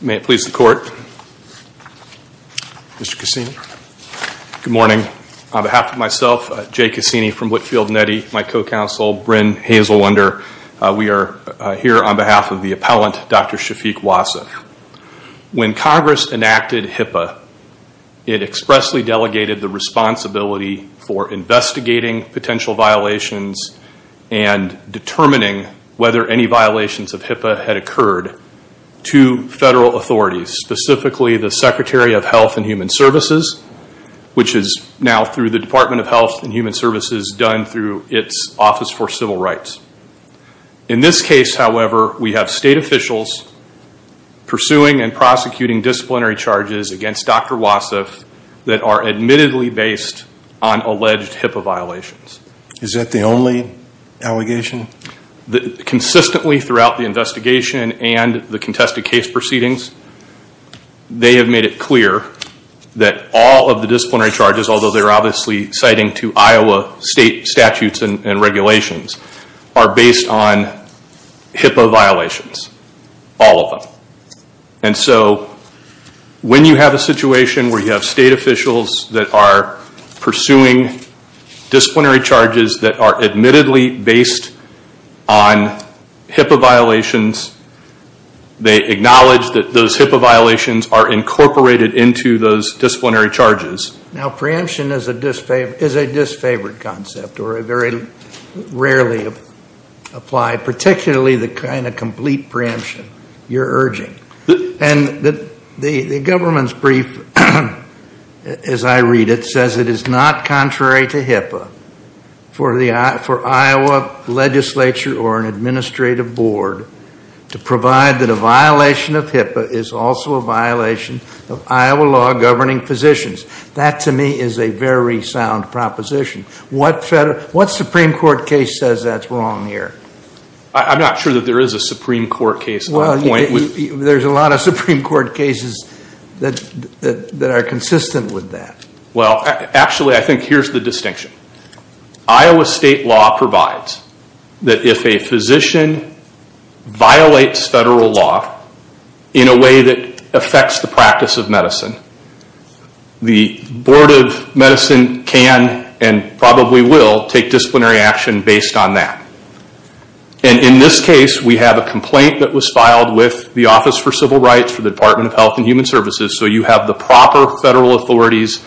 May it please the Court, Mr. Cassini. Good morning. On behalf of myself, Jay Cassini from Whitfield & Eddy, my co-counsel Bryn Hazelunder, we are here on behalf of the appellant Dr. Shafik Wassef. When Congress enacted HIPAA, it expressly delegated the responsibility for investigating potential violations and determining whether any violations of HIPAA had occurred to federal authorities, specifically the Secretary of Health and Human Services, which is now through the Department of Health and Human Services done through its Office for Civil Rights. In this case, however, we have state officials pursuing and prosecuting disciplinary charges against Dr. Wassef that are admittedly based on alleged HIPAA violations. Is that the only allegation? Consistently throughout the investigation and the contested case proceedings, they have made it clear that all of the disciplinary charges, although they are obviously citing to Iowa state statutes and regulations, are based on HIPAA violations. All of them. And so when you have a situation where you have state officials that are pursuing disciplinary charges that are admittedly based on HIPAA violations, they acknowledge that those HIPAA violations are incorporated into those disciplinary charges. Now preemption is a disfavored concept or a very rarely applied, particularly the kind of complete preemption you're urging. And the government's brief, as I read it, says it is not contrary to HIPAA for Iowa legislature or an administrative board to provide that a violation of HIPAA is also a violation of Iowa law governing positions. That to me is a very sound proposition. What Supreme Court case says that's wrong here? I'm not sure that there is a Supreme Court case on the point. There's a lot of Supreme Court cases that are consistent with that. Well, actually I think here's the distinction. Iowa state law provides that if a physician violates federal law in a way that affects the practice of medicine, the Board of Medicine can and probably will take disciplinary action based on that. In this case, we have a complaint that was filed with the Office for Civil Rights for the Department of Health and Human Services. So you have the proper federal authorities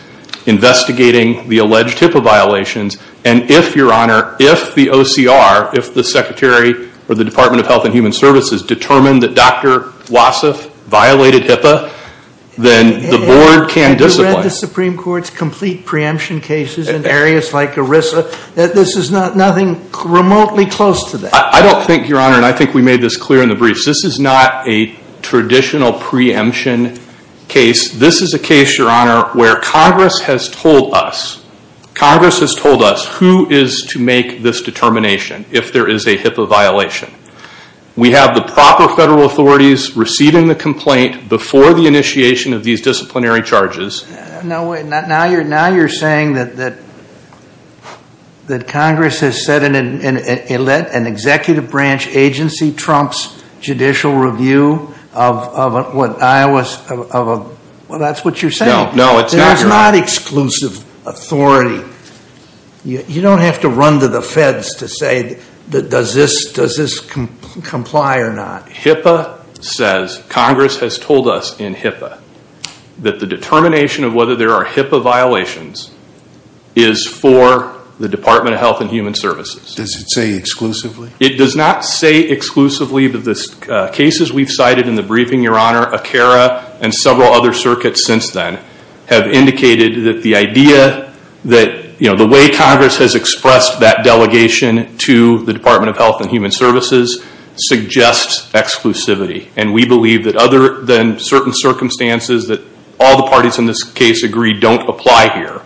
investigating the alleged HIPAA violations. And if, Your Honor, if the OCR, if the Secretary or the Department of Health and Human Services determine that Dr. Wassef violated HIPAA, then the Board can discipline. And the Supreme Court's complete preemption cases in areas like ERISA, this is nothing remotely close to that. I don't think, Your Honor, and I think we made this clear in the briefs, this is not a traditional preemption case. This is a case, Your Honor, where Congress has told us, Congress has told us who is to make this determination if there is a HIPAA violation. We have the proper federal authorities receiving the complaint before the initiation of these disciplinary charges. Now you're saying that Congress has sent an executive branch agency, Trump's Judicial Review of what Iowa's, well that's what you're saying. No, no, it's not. It's not exclusive authority. You don't have to run to the feds to say does this comply or not. HIPAA says, Congress has told us in HIPAA that the determination of whether there are HIPAA violations is for the Department of Health and Human Services. Does it say exclusively? It does not say exclusively, but the cases we've cited in the briefing, Your Honor, ACARA and several other circuits since then have indicated that the idea that, you know, the way Congress has expressed that delegation to the Department of Health and Human Services suggests exclusivity. And we believe that other than certain circumstances that all the parties in this case agree don't apply here,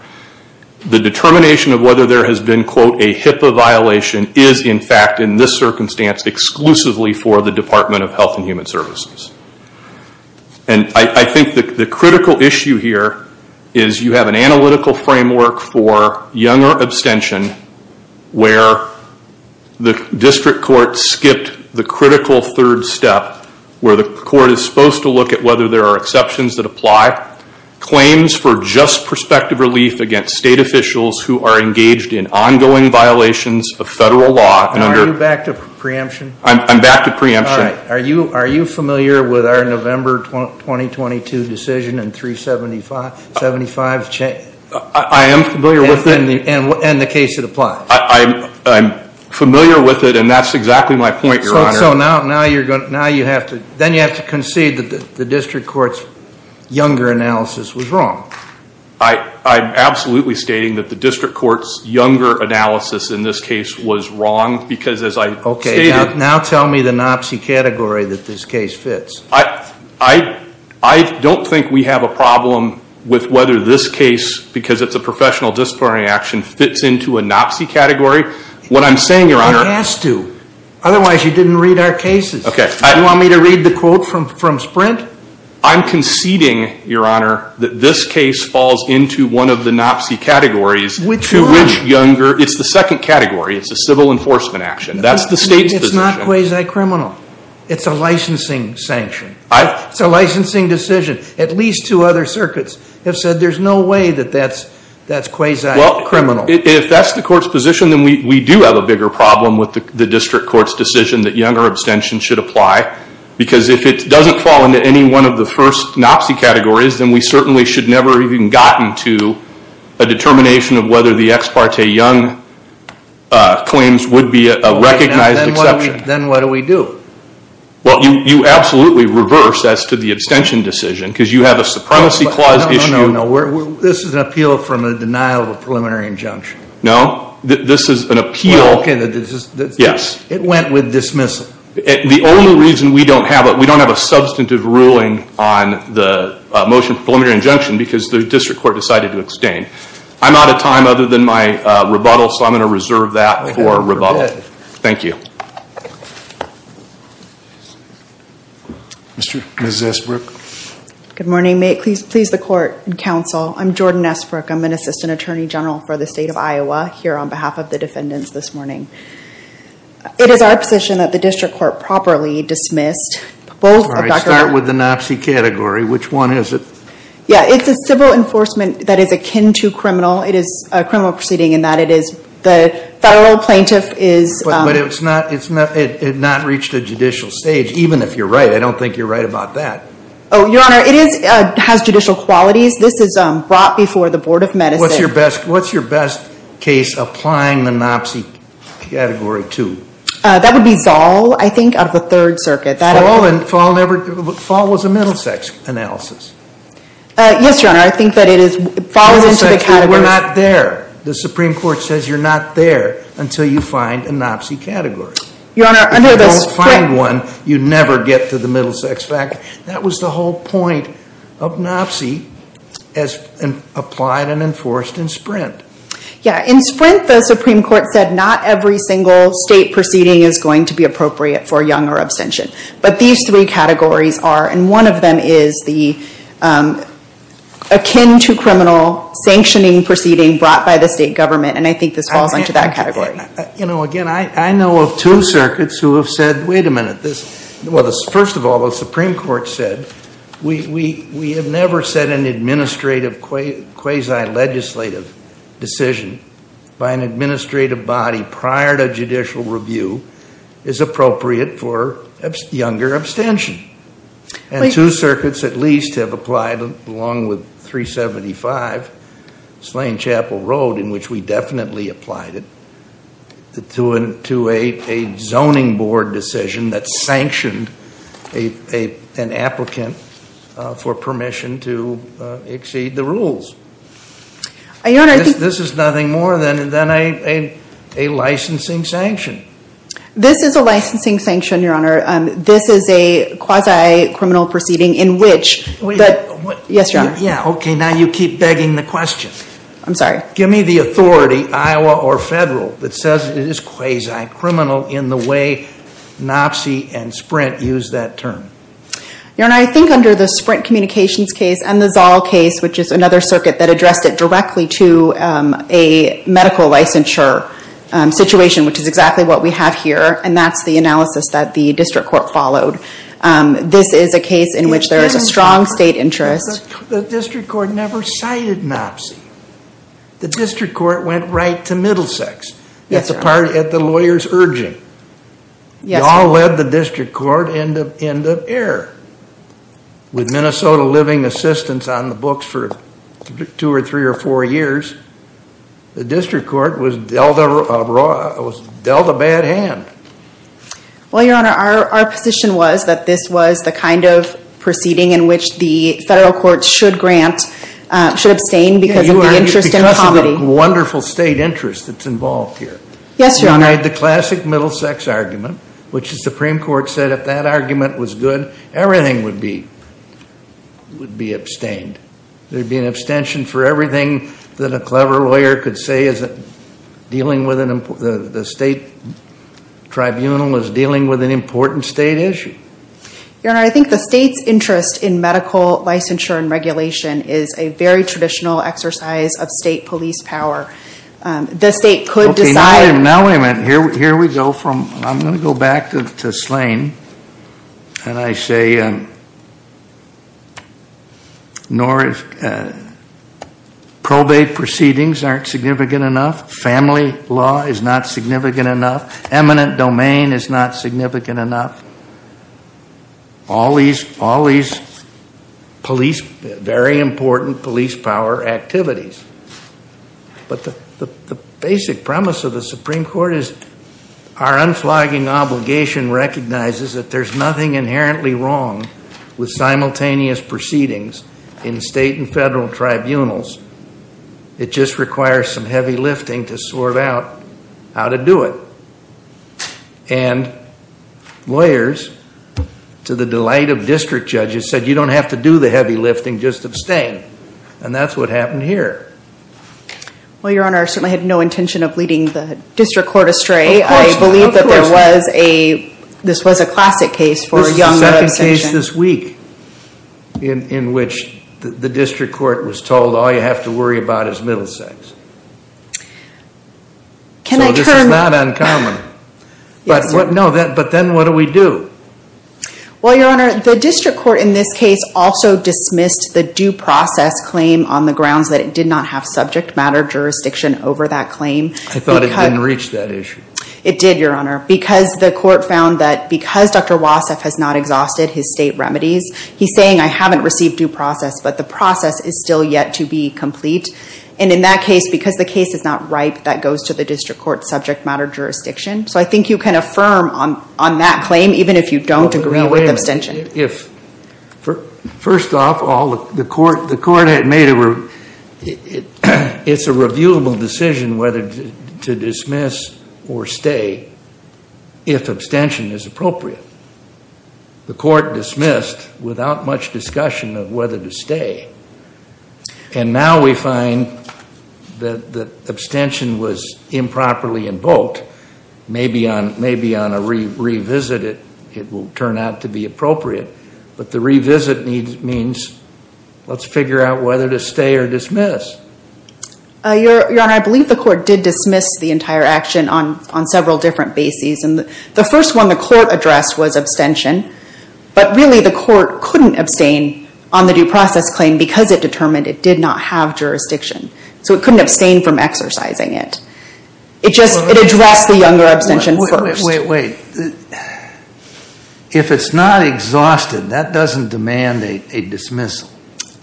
the determination of whether there has been, quote, a HIPAA violation is in fact in this circumstance exclusively for the Department of Health and Human Services. And I think the critical issue here is you have an analytical framework for Younger abstention where the district court skipped the critical third step where the court is supposed to look at whether there are exceptions that apply. Claims for just prospective relief against state officials who are engaged in ongoing violations of federal law. And are you back to preemption? I'm back to preemption. Are you familiar with our November 2022 decision and 375? I am familiar with it. And the case that applies? I'm familiar with it and that's exactly my point, Your Honor. So now you have to concede that the district court's Younger analysis was wrong? I'm absolutely stating that the district court's Younger analysis in this case was wrong because as I stated. Okay. Now tell me the NOPC category that this case fits. I don't think we have a problem with whether this case, because it's a professional disciplinary action, fits into a NOPC category. What I'm saying, Your Honor. It has to. Otherwise, you didn't read our cases. Okay. Do you want me to read the quote from Sprint? I'm conceding, Your Honor, that this case falls into one of the NOPC categories to which Younger. It's the second category. It's a civil enforcement action. That's the state's position. It's not quasi-criminal. It's a licensing sanction. It's a licensing decision. At least two other circuits have said there's no way that that's quasi-criminal. Well, if that's the court's position, then we do have a bigger problem with the district court's decision that Younger abstention should apply because if it doesn't fall into any one of the first NOPC categories, then we certainly should never have even gotten to a determination of whether the ex parte Young claims would be a recognized exception. Then what do we do? Well, you absolutely reverse as to the abstention decision because you have a supremacy clause issue. No, no, no. This is an appeal from a denial of a preliminary injunction. No. This is an appeal. Okay. Yes. It went with dismissal. The only reason we don't have it, we don't have a substantive ruling on the motion for preliminary injunction because the district court decided to abstain. I'm out of time other than my rebuttal, so I'm going to reserve that for rebuttal. Go ahead. Thank you. Ms. Esbrook. Good morning. May it please the court and counsel, I'm Jordan Esbrook. I'm an assistant attorney general for the state of Iowa here on behalf of the defendants this morning. It is our position that the district court properly dismissed both of Dr. All right. Start with the NOPC category. Which one is it? Yeah. It's a civil enforcement that is akin to criminal. It is a criminal proceeding in that it is the federal plaintiff is But it's not reached a judicial stage, even if you're right. I don't think you're right about that. Oh, your honor, it has judicial qualities. This is brought before the board of medicine. What's your best case applying the NOPC category to? That would be Zoll, I think, out of the third circuit. Fall was a middle sex analysis. Yes, your honor. I think that it falls into the category. The Supreme Court says you're not there until you find a NOPC category. You don't find one, you never get to the middle sex factor. That was the whole point of NOPC as applied and enforced in Sprint. Yeah. In Sprint, the Supreme Court said not every single state proceeding is going to be appropriate for young or abstention. But these three categories are, and one of them is the akin to criminal sanctioning proceeding brought by the state government, and I think this falls into that category. You know, again, I know of two circuits who have said, wait a minute, this, well, first of all, the Supreme Court said we have never said an administrative quasi-legislative decision by an administrative body prior to judicial review is appropriate for younger abstention. And two circuits at least have applied, along with 375 Slane Chapel Road, in which we definitely applied it, to a zoning board decision that sanctioned an applicant for permission to exceed the rules. Your Honor, I think... This is nothing more than a licensing sanction. This is a licensing sanction, Your Honor. This is a quasi-criminal proceeding in which... Yes, Your Honor. Yeah, okay, now you keep begging the question. I'm sorry. Give me the authority, Iowa or federal, that says it is quasi-criminal in the way NOPC and Sprint use that term. Your Honor, I think under the Sprint Communications case and the Zoll case, which is another circuit that addressed it directly to a medical licensure situation, which is exactly what we have here, and that's the analysis that the district court followed. This is a case in which there is a strong state interest. The district court never cited NOPC. The district court went right to Middlesex. Yes, Your Honor. Yes, Your Honor. And it all led the district court into error. With Minnesota Living Assistance on the books for two or three or four years, the district court was dealt a bad hand. Well, Your Honor, our position was that this was the kind of proceeding in which the federal courts should grant, should abstain because of the interest in comedy. Because of the wonderful state interest that's involved here. Yes, Your Honor. We denied the classic Middlesex argument, which the Supreme Court said if that argument was good, everything would be abstained. There would be an abstention for everything that a clever lawyer could say isn't dealing with an important, the state tribunal is dealing with an important state issue. Your Honor, I think the state's interest in medical licensure and regulation is a very traditional exercise of state police power. The state could decide. All right. Now, wait a minute. Here we go from, I'm going to go back to Slane and I say probate proceedings aren't significant enough, family law is not significant enough, eminent domain is not significant enough. All these police, very important police power activities. But the basic premise of the Supreme Court is our unflagging obligation recognizes that there's nothing inherently wrong with simultaneous proceedings in state and federal tribunals. It just requires some heavy lifting to sort out how to do it. And lawyers, to the delight of district judges, said you don't have to do the heavy lifting, just abstain. And that's what happened here. Well, Your Honor, I certainly had no intention of leading the district court astray. Of course. Of course. I believe that there was a, this was a classic case for young adult abstention. This is the second case this week in which the district court was told all you have to worry about is middle sex. Can I turn? So this is not uncommon. Yes. But what, no, but then what do we do? Well, Your Honor, the district court in this case also dismissed the due process claim on the grounds that it did not have subject matter jurisdiction over that claim. I thought it didn't reach that issue. It did, Your Honor, because the court found that because Dr. Wassef has not exhausted his state remedies, he's saying I haven't received due process, but the process is still yet to be complete. And in that case, because the case is not ripe, that goes to the district court subject matter jurisdiction. So I think you can affirm on that claim even if you don't agree with abstention. First off all, the court had made a, it's a reviewable decision whether to dismiss or stay if abstention is appropriate. The court dismissed without much discussion of whether to stay. And now we find that abstention was improperly invoked. Maybe on a revisit it will turn out to be appropriate, but the revisit means let's figure out whether to stay or dismiss. Your Honor, I believe the court did dismiss the entire action on several different bases. And the first one the court addressed was abstention, but really the court couldn't abstain on the due process claim because it determined it did not have jurisdiction. So it couldn't abstain from exercising it. It just, it addressed the younger abstention first. Wait, wait, wait. If it's not exhausted, that doesn't demand a dismissal.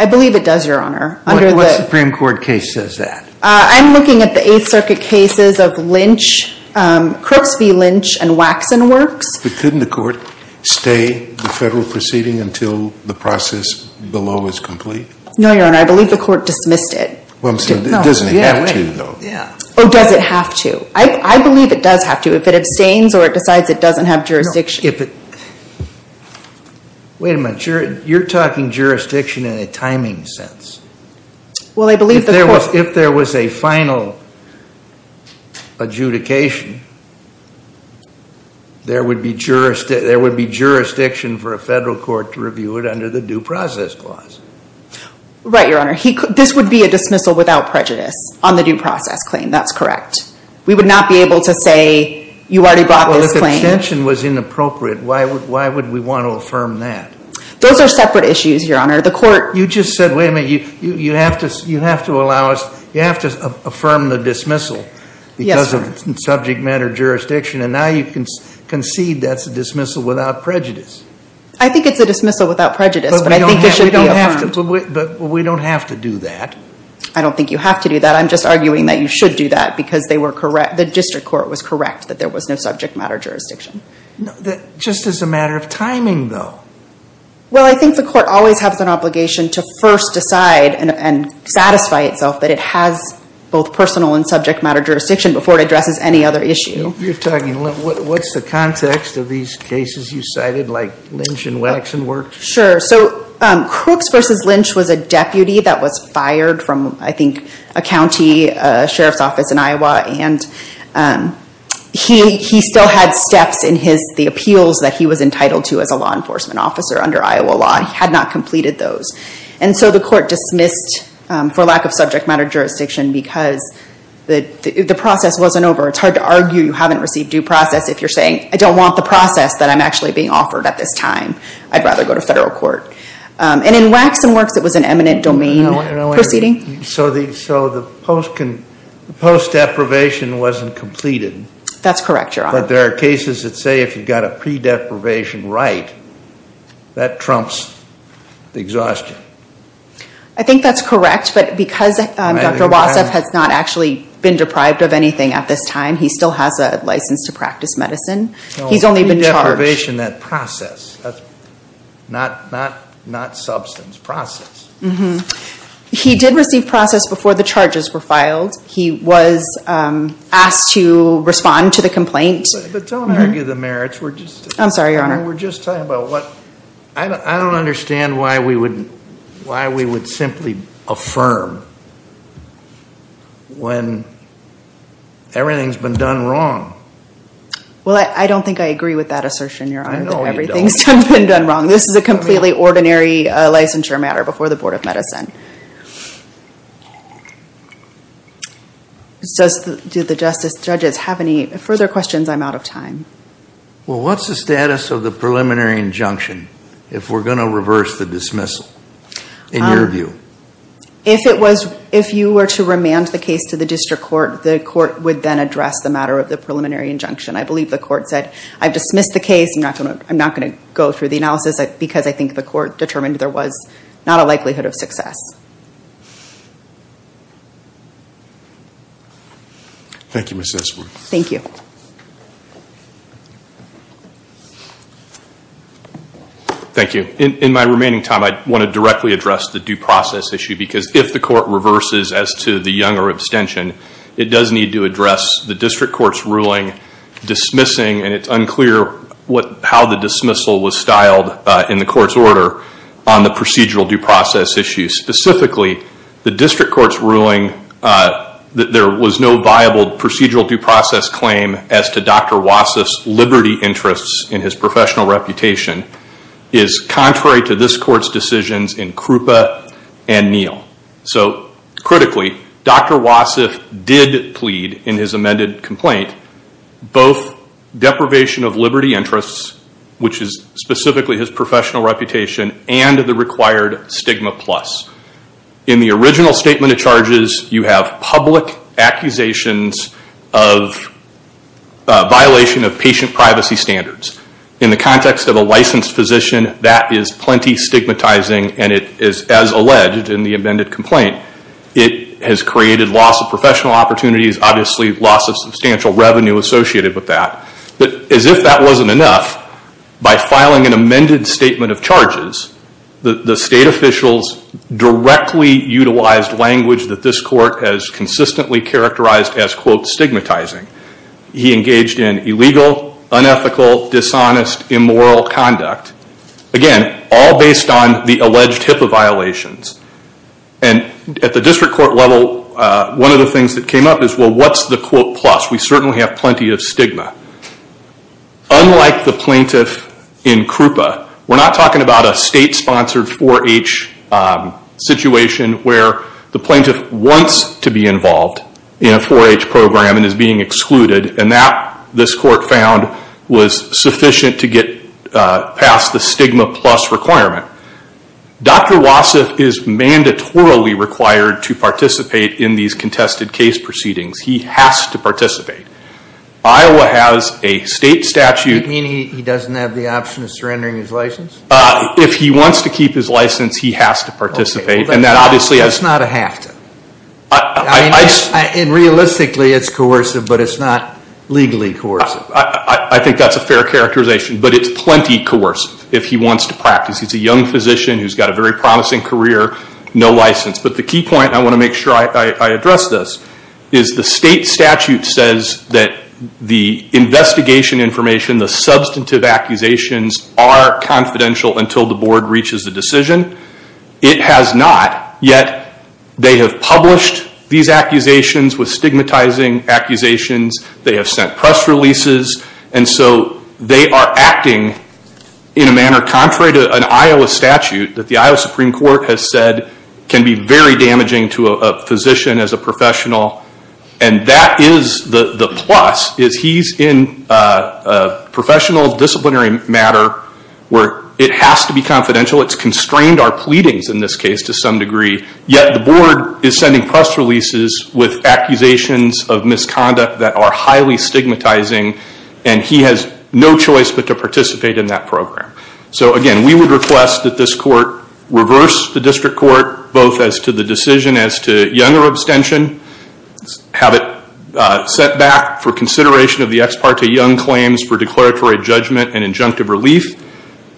I believe it does, Your Honor. Under the- What Supreme Court case says that? I'm looking at the Eighth Circuit cases of Lynch, Crooks v. Lynch and Waxon Works. But couldn't the court stay the federal proceeding until the process below is complete? No, Your Honor. I believe the court dismissed it. Well, I'm saying it doesn't have to, though. Yeah, wait. Yeah. Or does it have to? I believe it does have to if it abstains or it decides it doesn't have jurisdiction. No. If it- Wait a minute. You're talking jurisdiction in a timing sense. Well I believe the court- There would be jurisdiction for a federal court to review it under the due process clause. Right, Your Honor. This would be a dismissal without prejudice on the due process claim. That's correct. We would not be able to say, you already brought this claim. Well, if abstention was inappropriate, why would we want to affirm that? Those are separate issues, Your Honor. The court- You just said, wait a minute. You have to allow us, you have to affirm the dismissal because of subject matter jurisdiction. And now you concede that's a dismissal without prejudice. I think it's a dismissal without prejudice, but I think it should be affirmed. But we don't have to do that. I don't think you have to do that. I'm just arguing that you should do that because they were correct, the district court was correct that there was no subject matter jurisdiction. Just as a matter of timing, though. Well, I think the court always has an obligation to first decide and satisfy itself that it has both personal and subject matter jurisdiction before it addresses any other issue. You're talking, what's the context of these cases you cited, like Lynch and Waxson worked? Sure. So Crooks versus Lynch was a deputy that was fired from, I think, a county sheriff's office in Iowa. And he still had steps in the appeals that he was entitled to as a law enforcement officer under Iowa law. He had not completed those. And so the court dismissed for lack of subject matter jurisdiction because the process wasn't over. It's hard to argue you haven't received due process if you're saying, I don't want the process that I'm actually being offered at this time. I'd rather go to federal court. And in Waxson works, it was an eminent domain proceeding. So the post-deprivation wasn't completed. That's correct, Your Honor. But there are cases that say if you've got a pre-deprivation right, that trumps the exhaustion. I think that's correct. But because Dr. Wassef has not actually been deprived of anything at this time, he still has a license to practice medicine. He's only been charged. No, pre-deprivation, that process. Not substance, process. He did receive process before the charges were filed. He was asked to respond to the complaint. But don't argue the merits. We're just... I'm sorry, Your Honor. We're just talking about what... I don't understand why we would simply affirm when everything's been done wrong. Well, I don't think I agree with that assertion, Your Honor, that everything's been done wrong. This is a completely ordinary licensure matter before the Board of Medicine. Do the judges have any further questions? I'm out of time. Well, what's the status of the preliminary injunction if we're going to reverse the dismissal, in your view? If it was... If you were to remand the case to the district court, the court would then address the matter of the preliminary injunction. I believe the court said, I've dismissed the case. I'm not going to go through the analysis because I think the court determined there was not a likelihood of success. Thank you, Ms. Esworth. Thank you. Thank you. In my remaining time, I want to directly address the due process issue because if the court reverses as to the Younger abstention, it does need to address the district court's ruling dismissing, and it's unclear how the dismissal was styled in the court's order on the procedural due process issue. Specifically, the district court's ruling that there was no viable procedural due process claim as to Dr. Wasif's liberty interests in his professional reputation is contrary to this court's decisions in Krupa and Neal. Critically, Dr. Wasif did plead in his amended complaint both deprivation of liberty interests, which is specifically his professional reputation, and the required stigma plus. In the original statement of charges, you have public accusations of violation of patient privacy standards. In the context of a licensed physician, that is plenty stigmatizing, and it is as alleged in the amended complaint. It has created loss of professional opportunities, obviously loss of substantial revenue associated with that. As if that wasn't enough, by filing an amended statement of charges, the state officials directly utilized language that this court has consistently characterized as quote stigmatizing. He engaged in illegal, unethical, dishonest, immoral conduct, again, all based on the alleged HIPAA violations. At the district court level, one of the things that came up is, well, what's the quote plus? We certainly have plenty of stigma. Unlike the plaintiff in Krupa, we're not talking about a state-sponsored 4-H situation where the plaintiff wants to be involved in a 4-H program and is being excluded, and that, this court found, was sufficient to get past the stigma plus requirement. Dr. Wasif is mandatorily required to participate in these contested case proceedings. He has to participate. Iowa has a state statute. You mean he doesn't have the option of surrendering his license? If he wants to keep his license, he has to participate. That's not a have to. Realistically, it's coercive, but it's not legally coercive. I think that's a fair characterization, but it's plenty coercive if he wants to practice. He's a young physician who's got a very promising career, no license. The key point, I want to make sure I address this, is the state statute says that the investigation information, the substantive accusations are confidential until the board reaches a decision. It has not, yet they have published these accusations with stigmatizing accusations. They have sent press releases. They are acting in a manner contrary to an Iowa statute that the Iowa Supreme Court has said can be very damaging to a physician as a professional. That is the plus, is he's in a professional disciplinary matter where it has to be confidential. It's constrained our pleadings in this case to some degree, yet the board is sending press releases with accusations of misconduct that are highly stigmatizing. He has no choice but to participate in that program. So again, we would request that this court reverse the district court both as to the decision as to younger abstention, have it set back for consideration of the ex parte young claims for declaratory judgment and injunctive relief,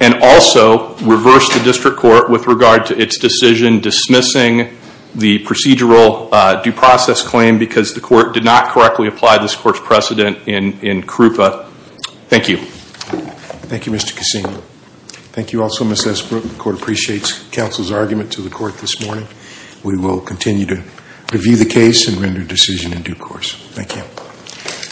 and also reverse the district court with regard to its decision dismissing the procedural due process claim because the court did not correctly apply this court's precedent in CRUPA. Thank you. Thank you, Mr. Cassino. Thank you also, Ms. Esbrook. The court appreciates counsel's argument to the court this morning. We will continue to review the case and render a decision in due course. Thank you.